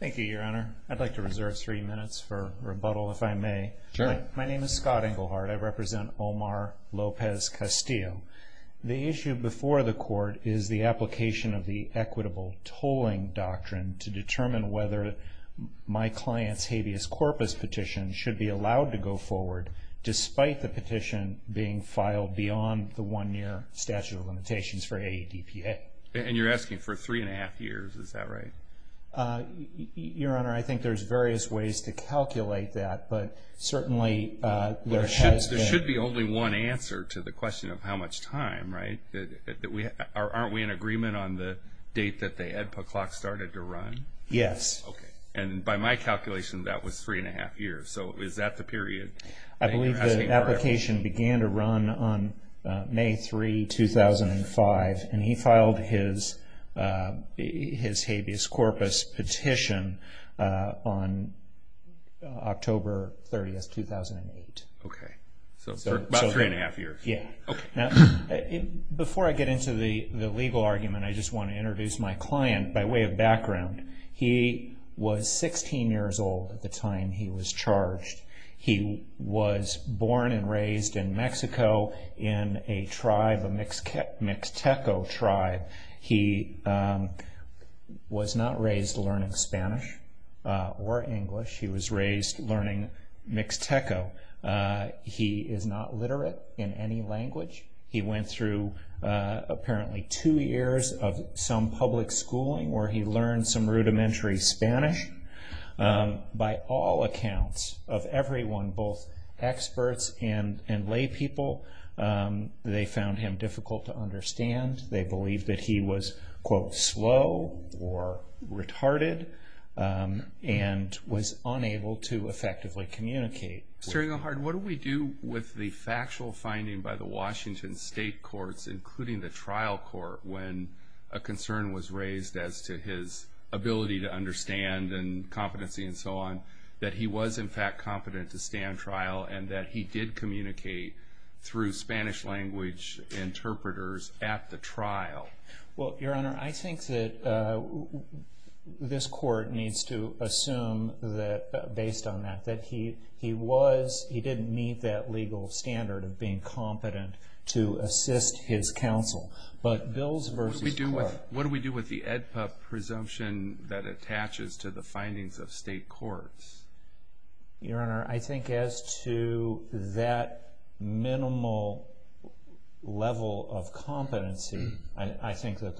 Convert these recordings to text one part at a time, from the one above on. Thank you, Your Honor. I'd like to reserve three minutes for rebuttal, if I may. Sure. My name is Scott Engelhardt. I represent Omar Lopez-Castillo. The issue before the Court is the application of the equitable tolling doctrine to determine whether my client's habeas corpus petition should be allowed to go forward despite the petition being filed beyond the one-year statute of limitations for AEDPA. And you're asking for three-and-a-half years, is that right? Your Honor, I think there's various ways to calculate that, but certainly there has been... There should be only one answer to the question of how much time, right? Aren't we in agreement on the date that the AEDPA clock started to run? Yes. Okay. And by my calculation, that was three-and-a-half years. So is that the period that you're asking for? I believe the application began to run on May 3, 2005, and he filed his habeas corpus petition on October 30, 2008. Okay. So about three-and-a-half years. Yeah. Okay. Before I get into the legal argument, I just want to introduce my client by way of background. He was 16 years old at the time he was charged. He was born and raised in Mexico in a tribe, a Mixteco tribe. He was not raised learning Spanish or English. He was raised learning Mixteco. He is not literate in any language. He went through apparently two years of some public schooling where he learned some rudimentary Spanish. By all accounts of everyone, both experts and laypeople, they found him difficult to understand. They believed that he was, quote, slow or retarded and was unable to effectively communicate. Mr. Engelhardt, what do we do with the factual finding by the Washington state courts, including the trial court, when a concern was raised as to his ability to understand and competency and so on, that he was, in fact, competent to stand trial and that he did communicate through Spanish language interpreters at the trial? Well, Your Honor, I think that this court needs to assume that, based on that, that he didn't meet that legal standard of being competent to assist his counsel. But Bills v. Clark. What do we do with the AEDPA presumption that attaches to the findings of state courts? Your Honor, I think as to that minimal level of competency, I think that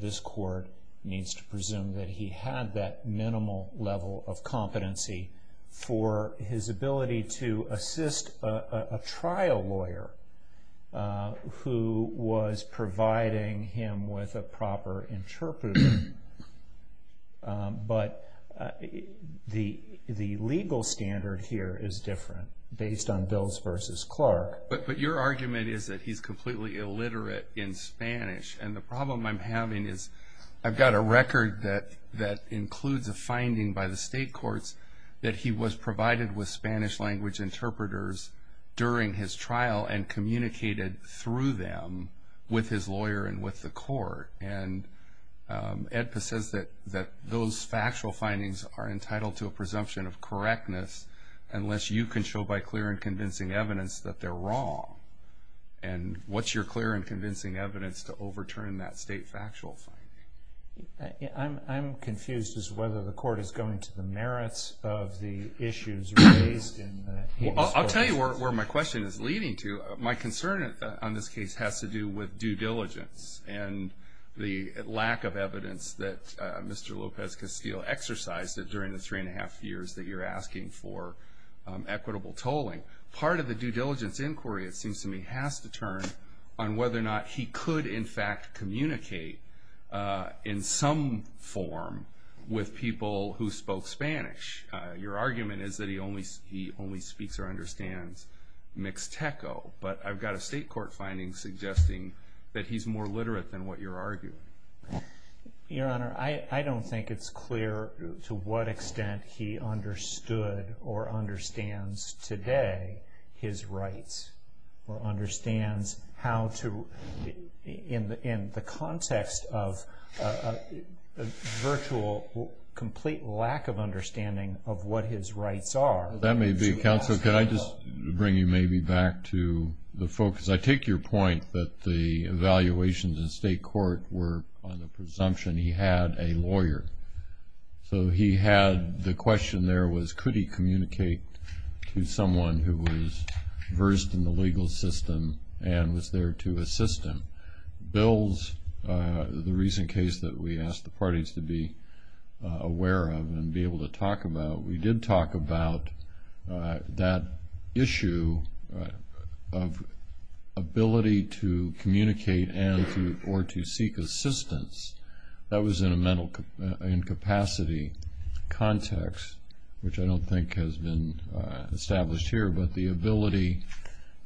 this court needs to presume that he had that minimal level of competency for his ability to assist a trial lawyer who was providing him with a proper interpreter. But the legal standard here is different, based on Bills v. Clark. But your argument is that he's completely illiterate in Spanish. And the problem I'm having is I've got a record that includes a finding by the state courts that he was provided with Spanish language interpreters during his trial and communicated through them with his lawyer and with the court. And AEDPA says that those factual findings are entitled to a presumption of correctness unless you can show by clear and convincing evidence that they're wrong. And what's your clear and convincing evidence to overturn that state factual finding? I'm confused as to whether the court is going to the merits of the issues raised in the AEDPA. I'll tell you where my question is leading to. My concern on this case has to do with due diligence and the lack of evidence that Mr. Lopez-Castillo exercised during the three and a half years that you're asking for equitable tolling. Part of the due diligence inquiry, it seems to me, has to turn on whether or not he could, in fact, communicate in some form with people who spoke Spanish. Your argument is that he only speaks or understands mixteco. But I've got a state court finding suggesting that he's more literate than what you're arguing. Your Honor, I don't think it's clear to what extent he understood or understands today his rights or understands how to, in the context of a virtual, complete lack of understanding of what his rights are. That may be a counsel. Could I just bring you maybe back to the focus? I take your point that the evaluations in state court were on the presumption he had a lawyer. So he had the question there was could he communicate to someone who was versed in the legal system and was there to assist him. Bill's, the recent case that we asked the parties to be aware of and be able to talk about, we did talk about that issue of ability to communicate or to seek assistance. That was in a mental incapacity context, which I don't think has been established here, but the ability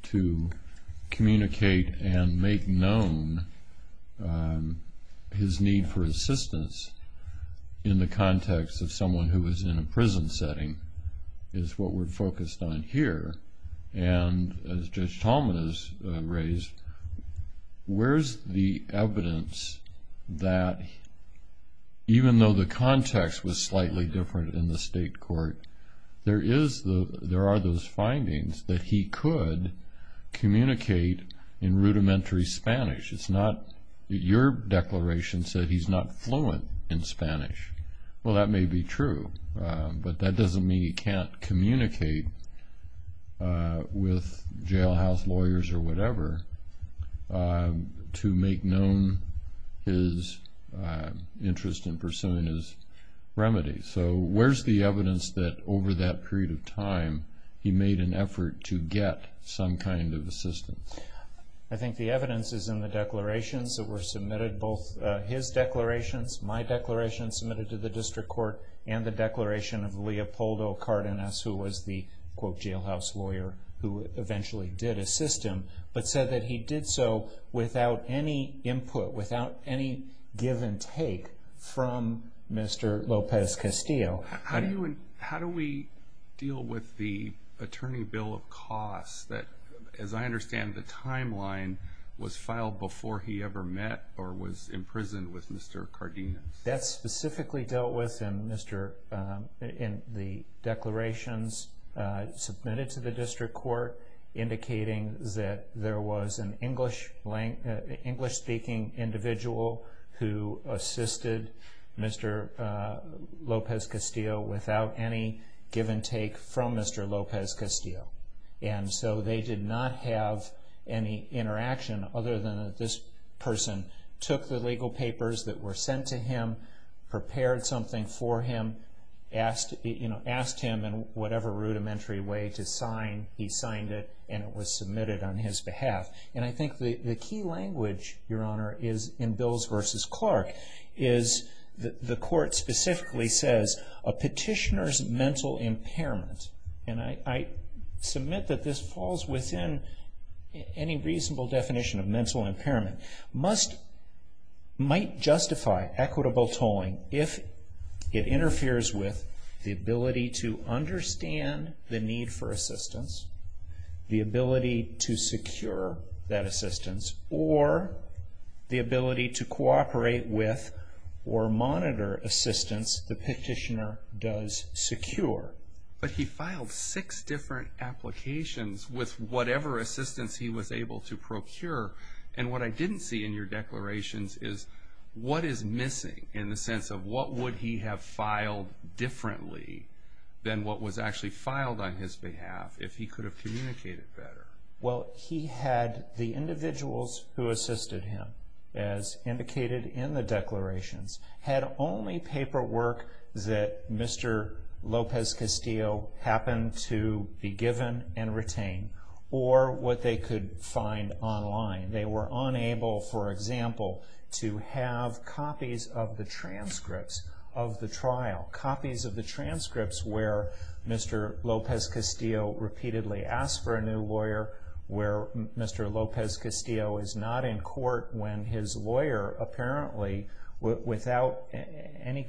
to communicate and make known his need for assistance in the context of someone who was in a prison setting is what we're focused on here. And as Judge Tallman has raised, where's the evidence that even though the context was slightly different in the state court, there are those findings that he could communicate in rudimentary Spanish. It's not that your declaration said he's not fluent in Spanish. Well, that may be true, but that doesn't mean he can't communicate with jailhouse lawyers or whatever to make known his interest in pursuing his remedies. So where's the evidence that over that period of time he made an effort to get some kind of assistance? I think the evidence is in the declarations that were submitted, both his declarations, my declaration submitted to the district court, and the declaration of Leopoldo Cardenas, who was the, quote, jailhouse lawyer who eventually did assist him, but said that he did so without any input, without any give and take from Mr. Lopez-Castillo. How do we deal with the attorney bill of costs that, as I understand, the timeline was filed before he ever met or was imprisoned with Mr. Cardenas? That's specifically dealt with in the declarations submitted to the district court, indicating that there was an English-speaking individual who assisted Mr. Lopez-Castillo without any give and take from Mr. Lopez-Castillo. And so they did not have any interaction other than that this person took the legal papers that were sent to him, prepared something for him, asked him in whatever rudimentary way to sign. He signed it, and it was submitted on his behalf. And I think the key language, Your Honor, in Bills v. Clark is the court specifically says, a petitioner's mental impairment, and I submit that this falls within any reasonable definition of mental impairment, might justify equitable tolling if it interferes with the ability to understand the need for assistance, the ability to secure that assistance, or the ability to cooperate with or monitor assistance the petitioner does secure. But he filed six different applications with whatever assistance he was able to procure. And what I didn't see in your declarations is what is missing in the sense of what would he have filed differently than what was actually filed on his behalf if he could have communicated better? Well, he had the individuals who assisted him, as indicated in the declarations, had only paperwork that Mr. Lopez-Castillo happened to be given and retain, or what they could find online. They were unable, for example, to have copies of the transcripts of the trial, copies of the transcripts where Mr. Lopez-Castillo repeatedly asked for a new lawyer, where Mr. Lopez-Castillo is not in court when his lawyer apparently, without any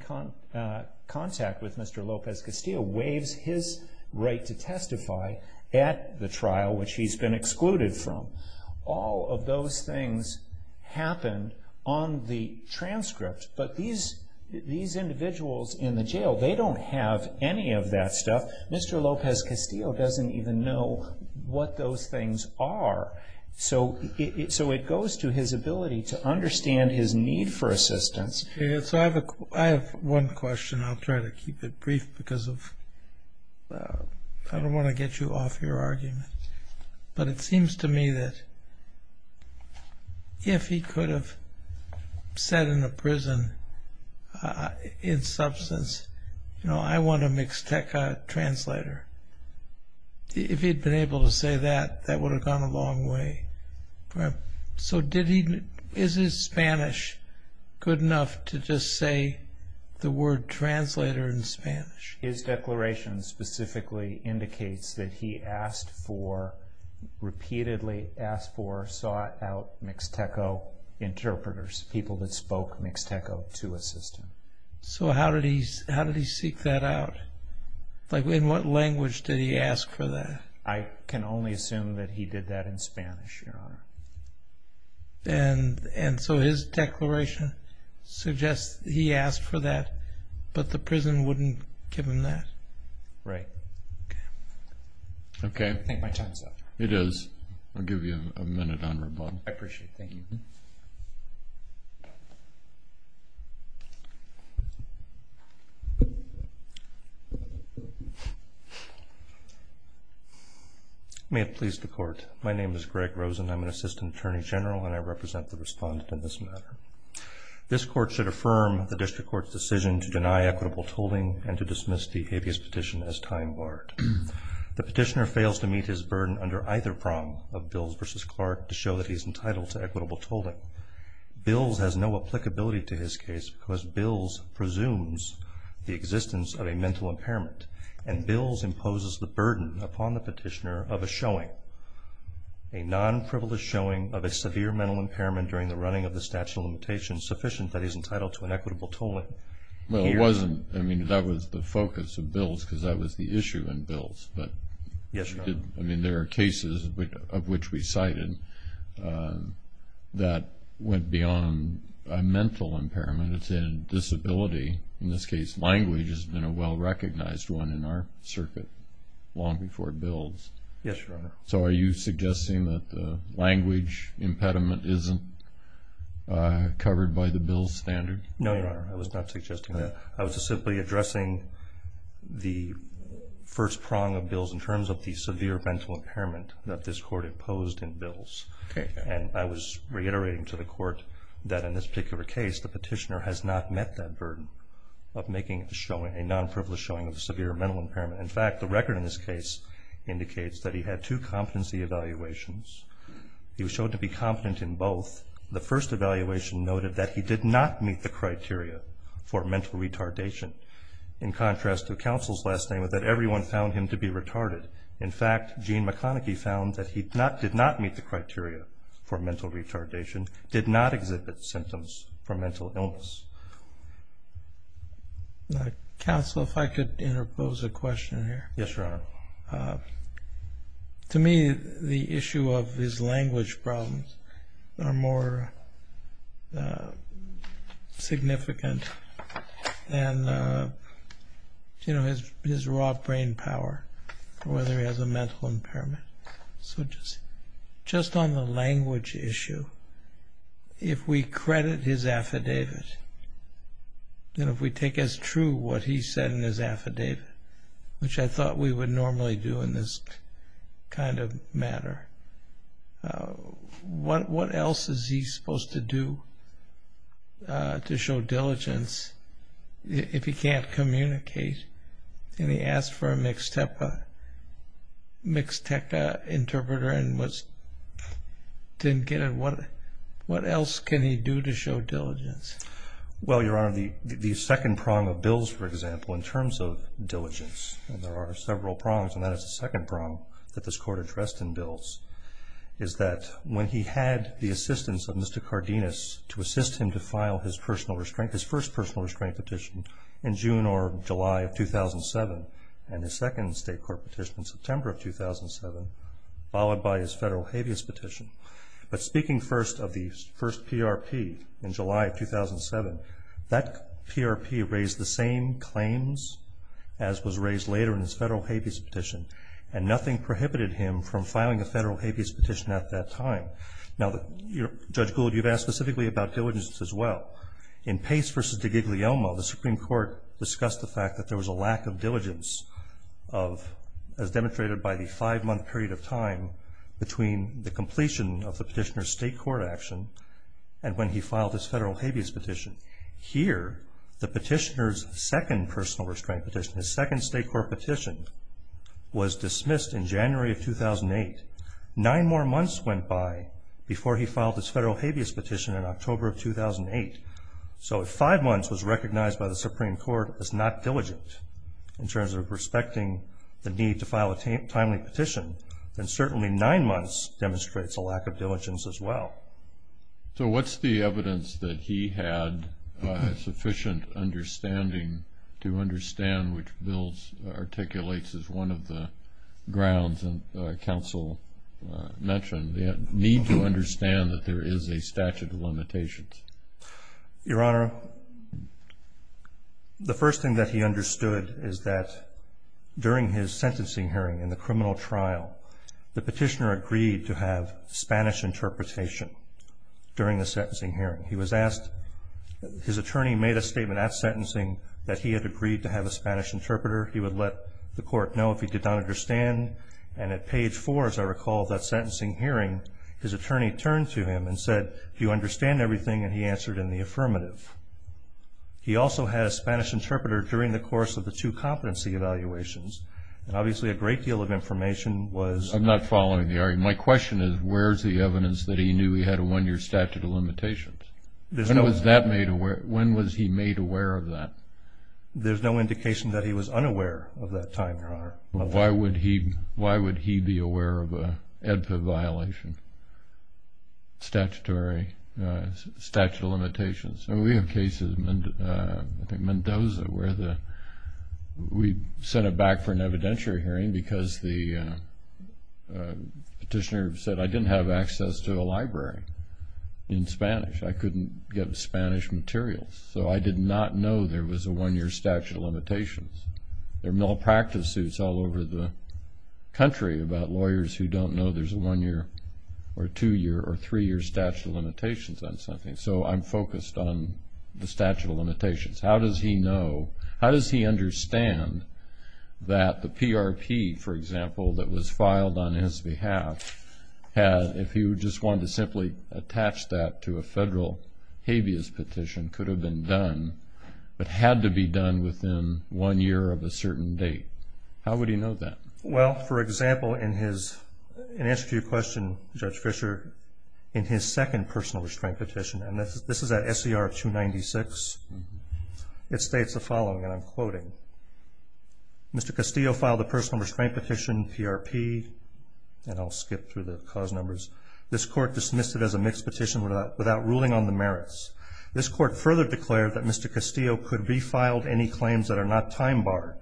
contact with Mr. Lopez-Castillo, waives his right to testify at the trial, which he's been excluded from. All of those things happened on the transcript. But these individuals in the jail, they don't have any of that stuff. Mr. Lopez-Castillo doesn't even know what those things are. So it goes to his ability to understand his need for assistance. I have one question. I'll try to keep it brief because I don't want to get you off your argument. But it seems to me that if he could have said in a prison, in substance, you know, I want a Mixteca translator, if he'd been able to say that, that would have gone a long way. So is his Spanish good enough to just say the word translator in Spanish? His declaration specifically indicates that he asked for, repeatedly asked for, sought out Mixteco interpreters, people that spoke Mixteco to assist him. So how did he seek that out? Like in what language did he ask for that? I can only assume that he did that in Spanish, Your Honor. And so his declaration suggests he asked for that, but the prison wouldn't give him that? Right. Okay. Okay. I think my time is up. It is. I'll give you a minute on rebuttal. I appreciate it. Thank you. May it please the Court. My name is Greg Rosen. I'm an Assistant Attorney General, and I represent the respondent in this matter. This Court should affirm the District Court's decision to deny equitable tolling and to dismiss the habeas petition as time barred. The petitioner fails to meet his burden under either prong of Bills v. Clark to show that he's entitled to equitable tolling. Bills has no applicability to his case because Bills presumes the existence of a mental impairment, and Bills imposes the burden upon the petitioner of a showing, a non-privileged showing of a severe mental impairment during the running of the statute of limitations sufficient that he's entitled to an equitable tolling. Well, it wasn't. I mean, that was the focus of Bills because that was the issue in Bills. Yes, Your Honor. I mean, there are cases of which we cited that went beyond a mental impairment. It's in disability. In this case, language has been a well-recognized one in our circuit long before Bills. Yes, Your Honor. So are you suggesting that the language impediment isn't covered by the Bills standard? No, Your Honor. I was not suggesting that. I was simply addressing the first prong of Bills in terms of the severe mental impairment that this Court imposed in Bills. Okay. And I was reiterating to the Court that in this particular case, the petitioner has not met that burden of making a showing, a non-privileged showing of a severe mental impairment. In fact, the record in this case indicates that he had two competency evaluations. He was shown to be competent in both. The first evaluation noted that he did not meet the criteria for mental retardation, in contrast to counsel's last statement that everyone found him to be retarded. In fact, Gene McConaghy found that he did not meet the criteria for mental retardation, did not exhibit symptoms for mental illness. Counsel, if I could interpose a question here. Yes, Your Honor. To me, the issue of his language problems are more significant than his raw brain power or whether he has a mental impairment. So just on the language issue, if we credit his affidavit, and if we take as true what he said in his affidavit, which I thought we would normally do in this kind of matter, what else is he supposed to do to show diligence if he can't communicate? And he asked for a Mixteca interpreter and didn't get it. What else can he do to show diligence? Well, Your Honor, the second prong of Bills, for example, in terms of diligence, and there are several prongs, and that is the second prong that this Court addressed in Bills, is that when he had the assistance of Mr. Cardenas to assist him to file his personal restraint, in June or July of 2007, and his second state court petition in September of 2007, followed by his federal habeas petition. But speaking first of the first PRP in July of 2007, that PRP raised the same claims as was raised later in his federal habeas petition, and nothing prohibited him from filing a federal habeas petition at that time. Now, Judge Gould, you've asked specifically about diligence as well. In Pace v. DiGiglielmo, the Supreme Court discussed the fact that there was a lack of diligence of, as demonstrated by the five-month period of time between the completion of the petitioner's state court action and when he filed his federal habeas petition. Here, the petitioner's second personal restraint petition, his second state court petition, was dismissed in January of 2008. Nine more months went by before he filed his federal habeas petition in October of 2008. So if five months was recognized by the Supreme Court as not diligent, in terms of respecting the need to file a timely petition, then certainly nine months demonstrates a lack of diligence as well. So what's the evidence that he had sufficient understanding to understand which Bills articulates as one of the grounds that counsel mentioned, the need to understand that there is a statute of limitations? Your Honor, the first thing that he understood is that during his sentencing hearing in the criminal trial, the petitioner agreed to have Spanish interpretation during the sentencing hearing. He was asked, his attorney made a statement at sentencing that he had agreed to have a Spanish interpreter. He would let the court know if he did not understand. And at page four, as I recall, of that sentencing hearing, his attorney turned to him and said, do you understand everything? And he answered in the affirmative. He also had a Spanish interpreter during the course of the two competency evaluations. And obviously a great deal of information was – I'm not following the argument. My question is, where's the evidence that he knew he had a one-year statute of limitations? When was he made aware of that? There's no indication that he was unaware of that time, Your Honor. Why would he be aware of an EDPA violation, statutory statute of limitations? We have cases, I think Mendoza, where the – we sent it back for an evidentiary hearing because the petitioner said, I didn't have access to a library in Spanish. I couldn't get Spanish materials. So I did not know there was a one-year statute of limitations. There are malpractice suits all over the country about lawyers who don't know there's a one-year or two-year or three-year statute of limitations on something. So I'm focused on the statute of limitations. How does he know – how does he understand that the PRP, for example, that was filed on his behalf had – if he just wanted to simply attach that to a federal habeas petition, could have been done but had to be done within one year of a certain date? How would he know that? Well, for example, in his – in answer to your question, Judge Fischer, in his second personal restraint petition, and this is at SCR 296, it states the following, and I'm quoting, Mr. Castillo filed a personal restraint petition, PRP, and I'll skip through the cause numbers. This court dismissed it as a mixed petition without ruling on the merits. This court further declared that Mr. Castillo could be filed any claims that are not time-barred.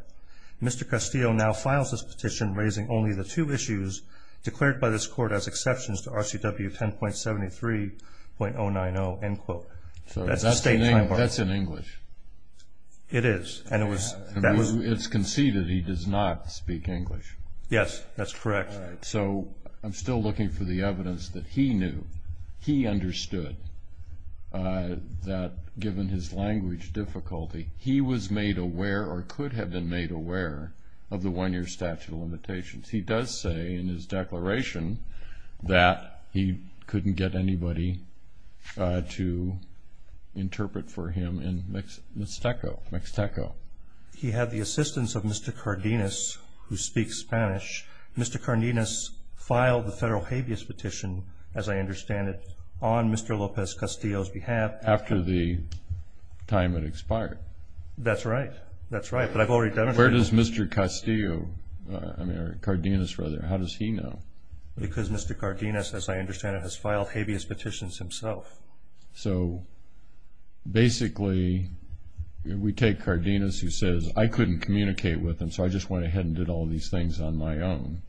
Mr. Castillo now files this petition raising only the two issues declared by this court as exceptions to RCW 10.73.090, end quote. So that's in English. It is, and it was – It's conceded he does not speak English. Yes, that's correct. So I'm still looking for the evidence that he knew, he understood, that given his language difficulty, he was made aware or could have been made aware of the one-year statute of limitations. He does say in his declaration that he couldn't get anybody to interpret for him in Mixteco. He had the assistance of Mr. Cardenas, who speaks Spanish. Mr. Cardenas filed the federal habeas petition, as I understand it, on Mr. Lopez-Castillo's behalf. After the time had expired. That's right, that's right, but I've already demonstrated that. Where does Mr. Castillo, I mean, or Cardenas, rather, how does he know? Because Mr. Cardenas, as I understand it, has filed habeas petitions himself. So basically we take Cardenas, who says, I couldn't communicate with him, so I just went ahead and did all these things on my own.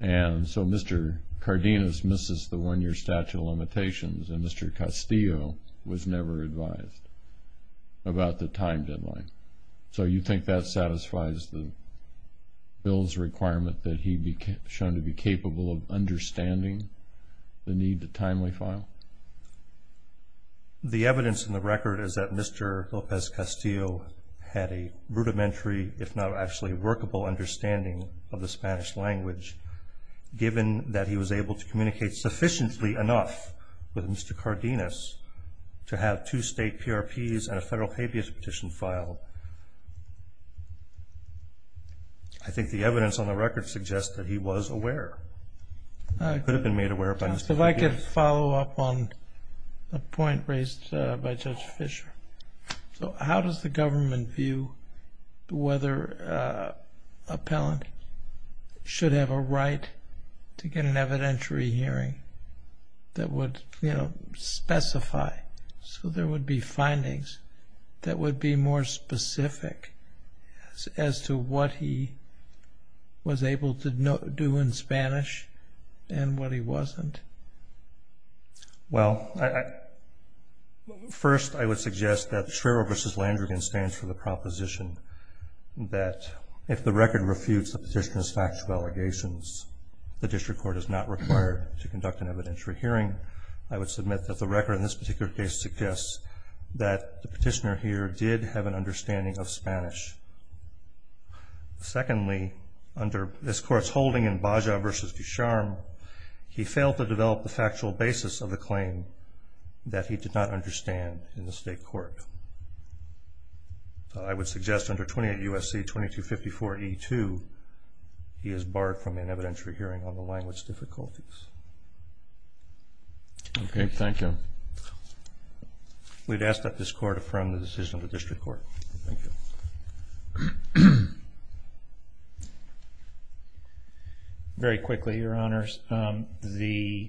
And so Mr. Cardenas misses the one-year statute of limitations, and Mr. Castillo was never advised about the time deadline. So you think that satisfies the bill's requirement that he be shown to be capable of understanding the need to timely file? The evidence in the record is that Mr. Lopez-Castillo had a rudimentary, if not actually workable understanding of the Spanish language, given that he was able to communicate sufficiently enough with Mr. Cardenas to have two state PRPs and a federal habeas petition filed. I think the evidence on the record suggests that he was aware. He could have been made aware by Mr. Cardenas. If I could follow up on a point raised by Judge Fischer. So how does the government view whether an appellant should have a right to get an evidentiary hearing that would specify? So there would be findings that would be more specific as to what he was able to do in Spanish and what he wasn't? Well, first I would suggest that Shriver v. Landrigan stands for the proposition that if the record refutes the petitioner's factual allegations, the district court is not required to conduct an evidentiary hearing. I would submit that the record in this particular case suggests that the petitioner here did have an understanding of Spanish. Secondly, under this court's holding in Baja v. Ducharme, he failed to develop the factual basis of the claim that he did not understand in the state court. I would suggest under 28 U.S.C. 2254E2, he is barred from an evidentiary hearing on the language difficulties. Okay, thank you. We'd ask that this court affirm the decision of the district court. Thank you. Very quickly, Your Honors. The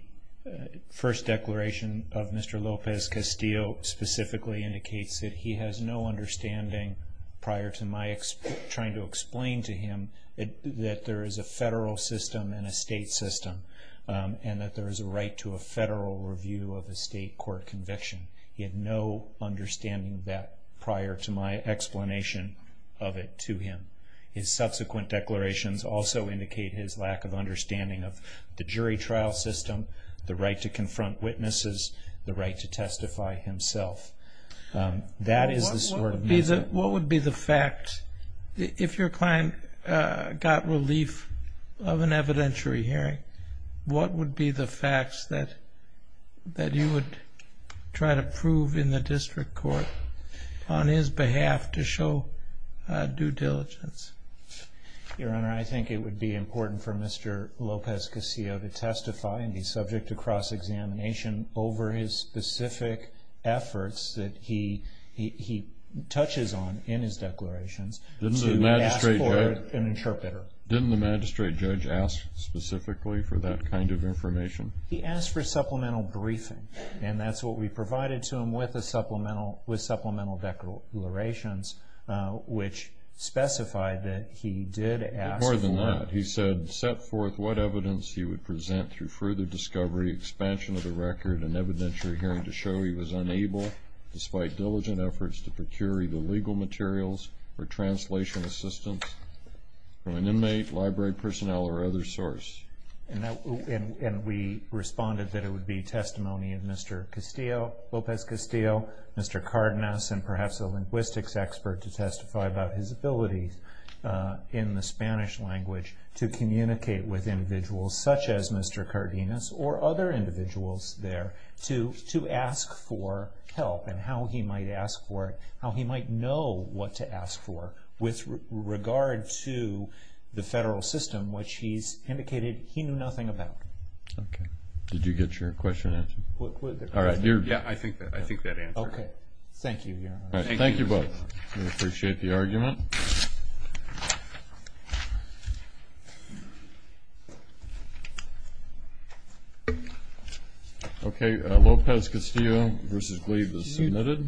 first declaration of Mr. Lopez-Castillo specifically indicates that he has no understanding prior to my trying to explain to him that there is a federal system and a state system. And that there is a right to a federal review of a state court conviction. He had no understanding of that prior to my explanation of it to him. His subsequent declarations also indicate his lack of understanding of the jury trial system, the right to confront witnesses, the right to testify himself. What would be the fact, if your client got relief of an evidentiary hearing, what would be the facts that you would try to prove in the district court on his behalf to show due diligence? Your Honor, I think it would be important for Mr. Lopez-Castillo to testify. He's subject to cross-examination over his specific efforts that he touches on in his declarations to ask for an interpreter. Didn't the magistrate judge ask specifically for that kind of information? He asked for supplemental briefing, and that's what we provided to him with supplemental declarations, which specified that he did ask for it. But more than that, he said, set forth what evidence he would present through further discovery, expansion of the record, and evidentiary hearing to show he was unable, despite diligent efforts, to procure either legal materials or translation assistance from an inmate, library personnel, or other source. And we responded that it would be testimony of Mr. Lopez-Castillo, Mr. Cardenas, and perhaps a linguistics expert to testify about his ability in the Spanish language to communicate with individuals such as Mr. Cardenas or other individuals there to ask for help and how he might ask for it, how he might know what to ask for, with regard to the federal system, which he's indicated he knew nothing about. Okay. Did you get your question answered? All right. Yeah, I think that answer. Okay. Thank you, Your Honor. Thank you both. We appreciate the argument. Okay. Lopez-Castillo v. Glieb is submitted.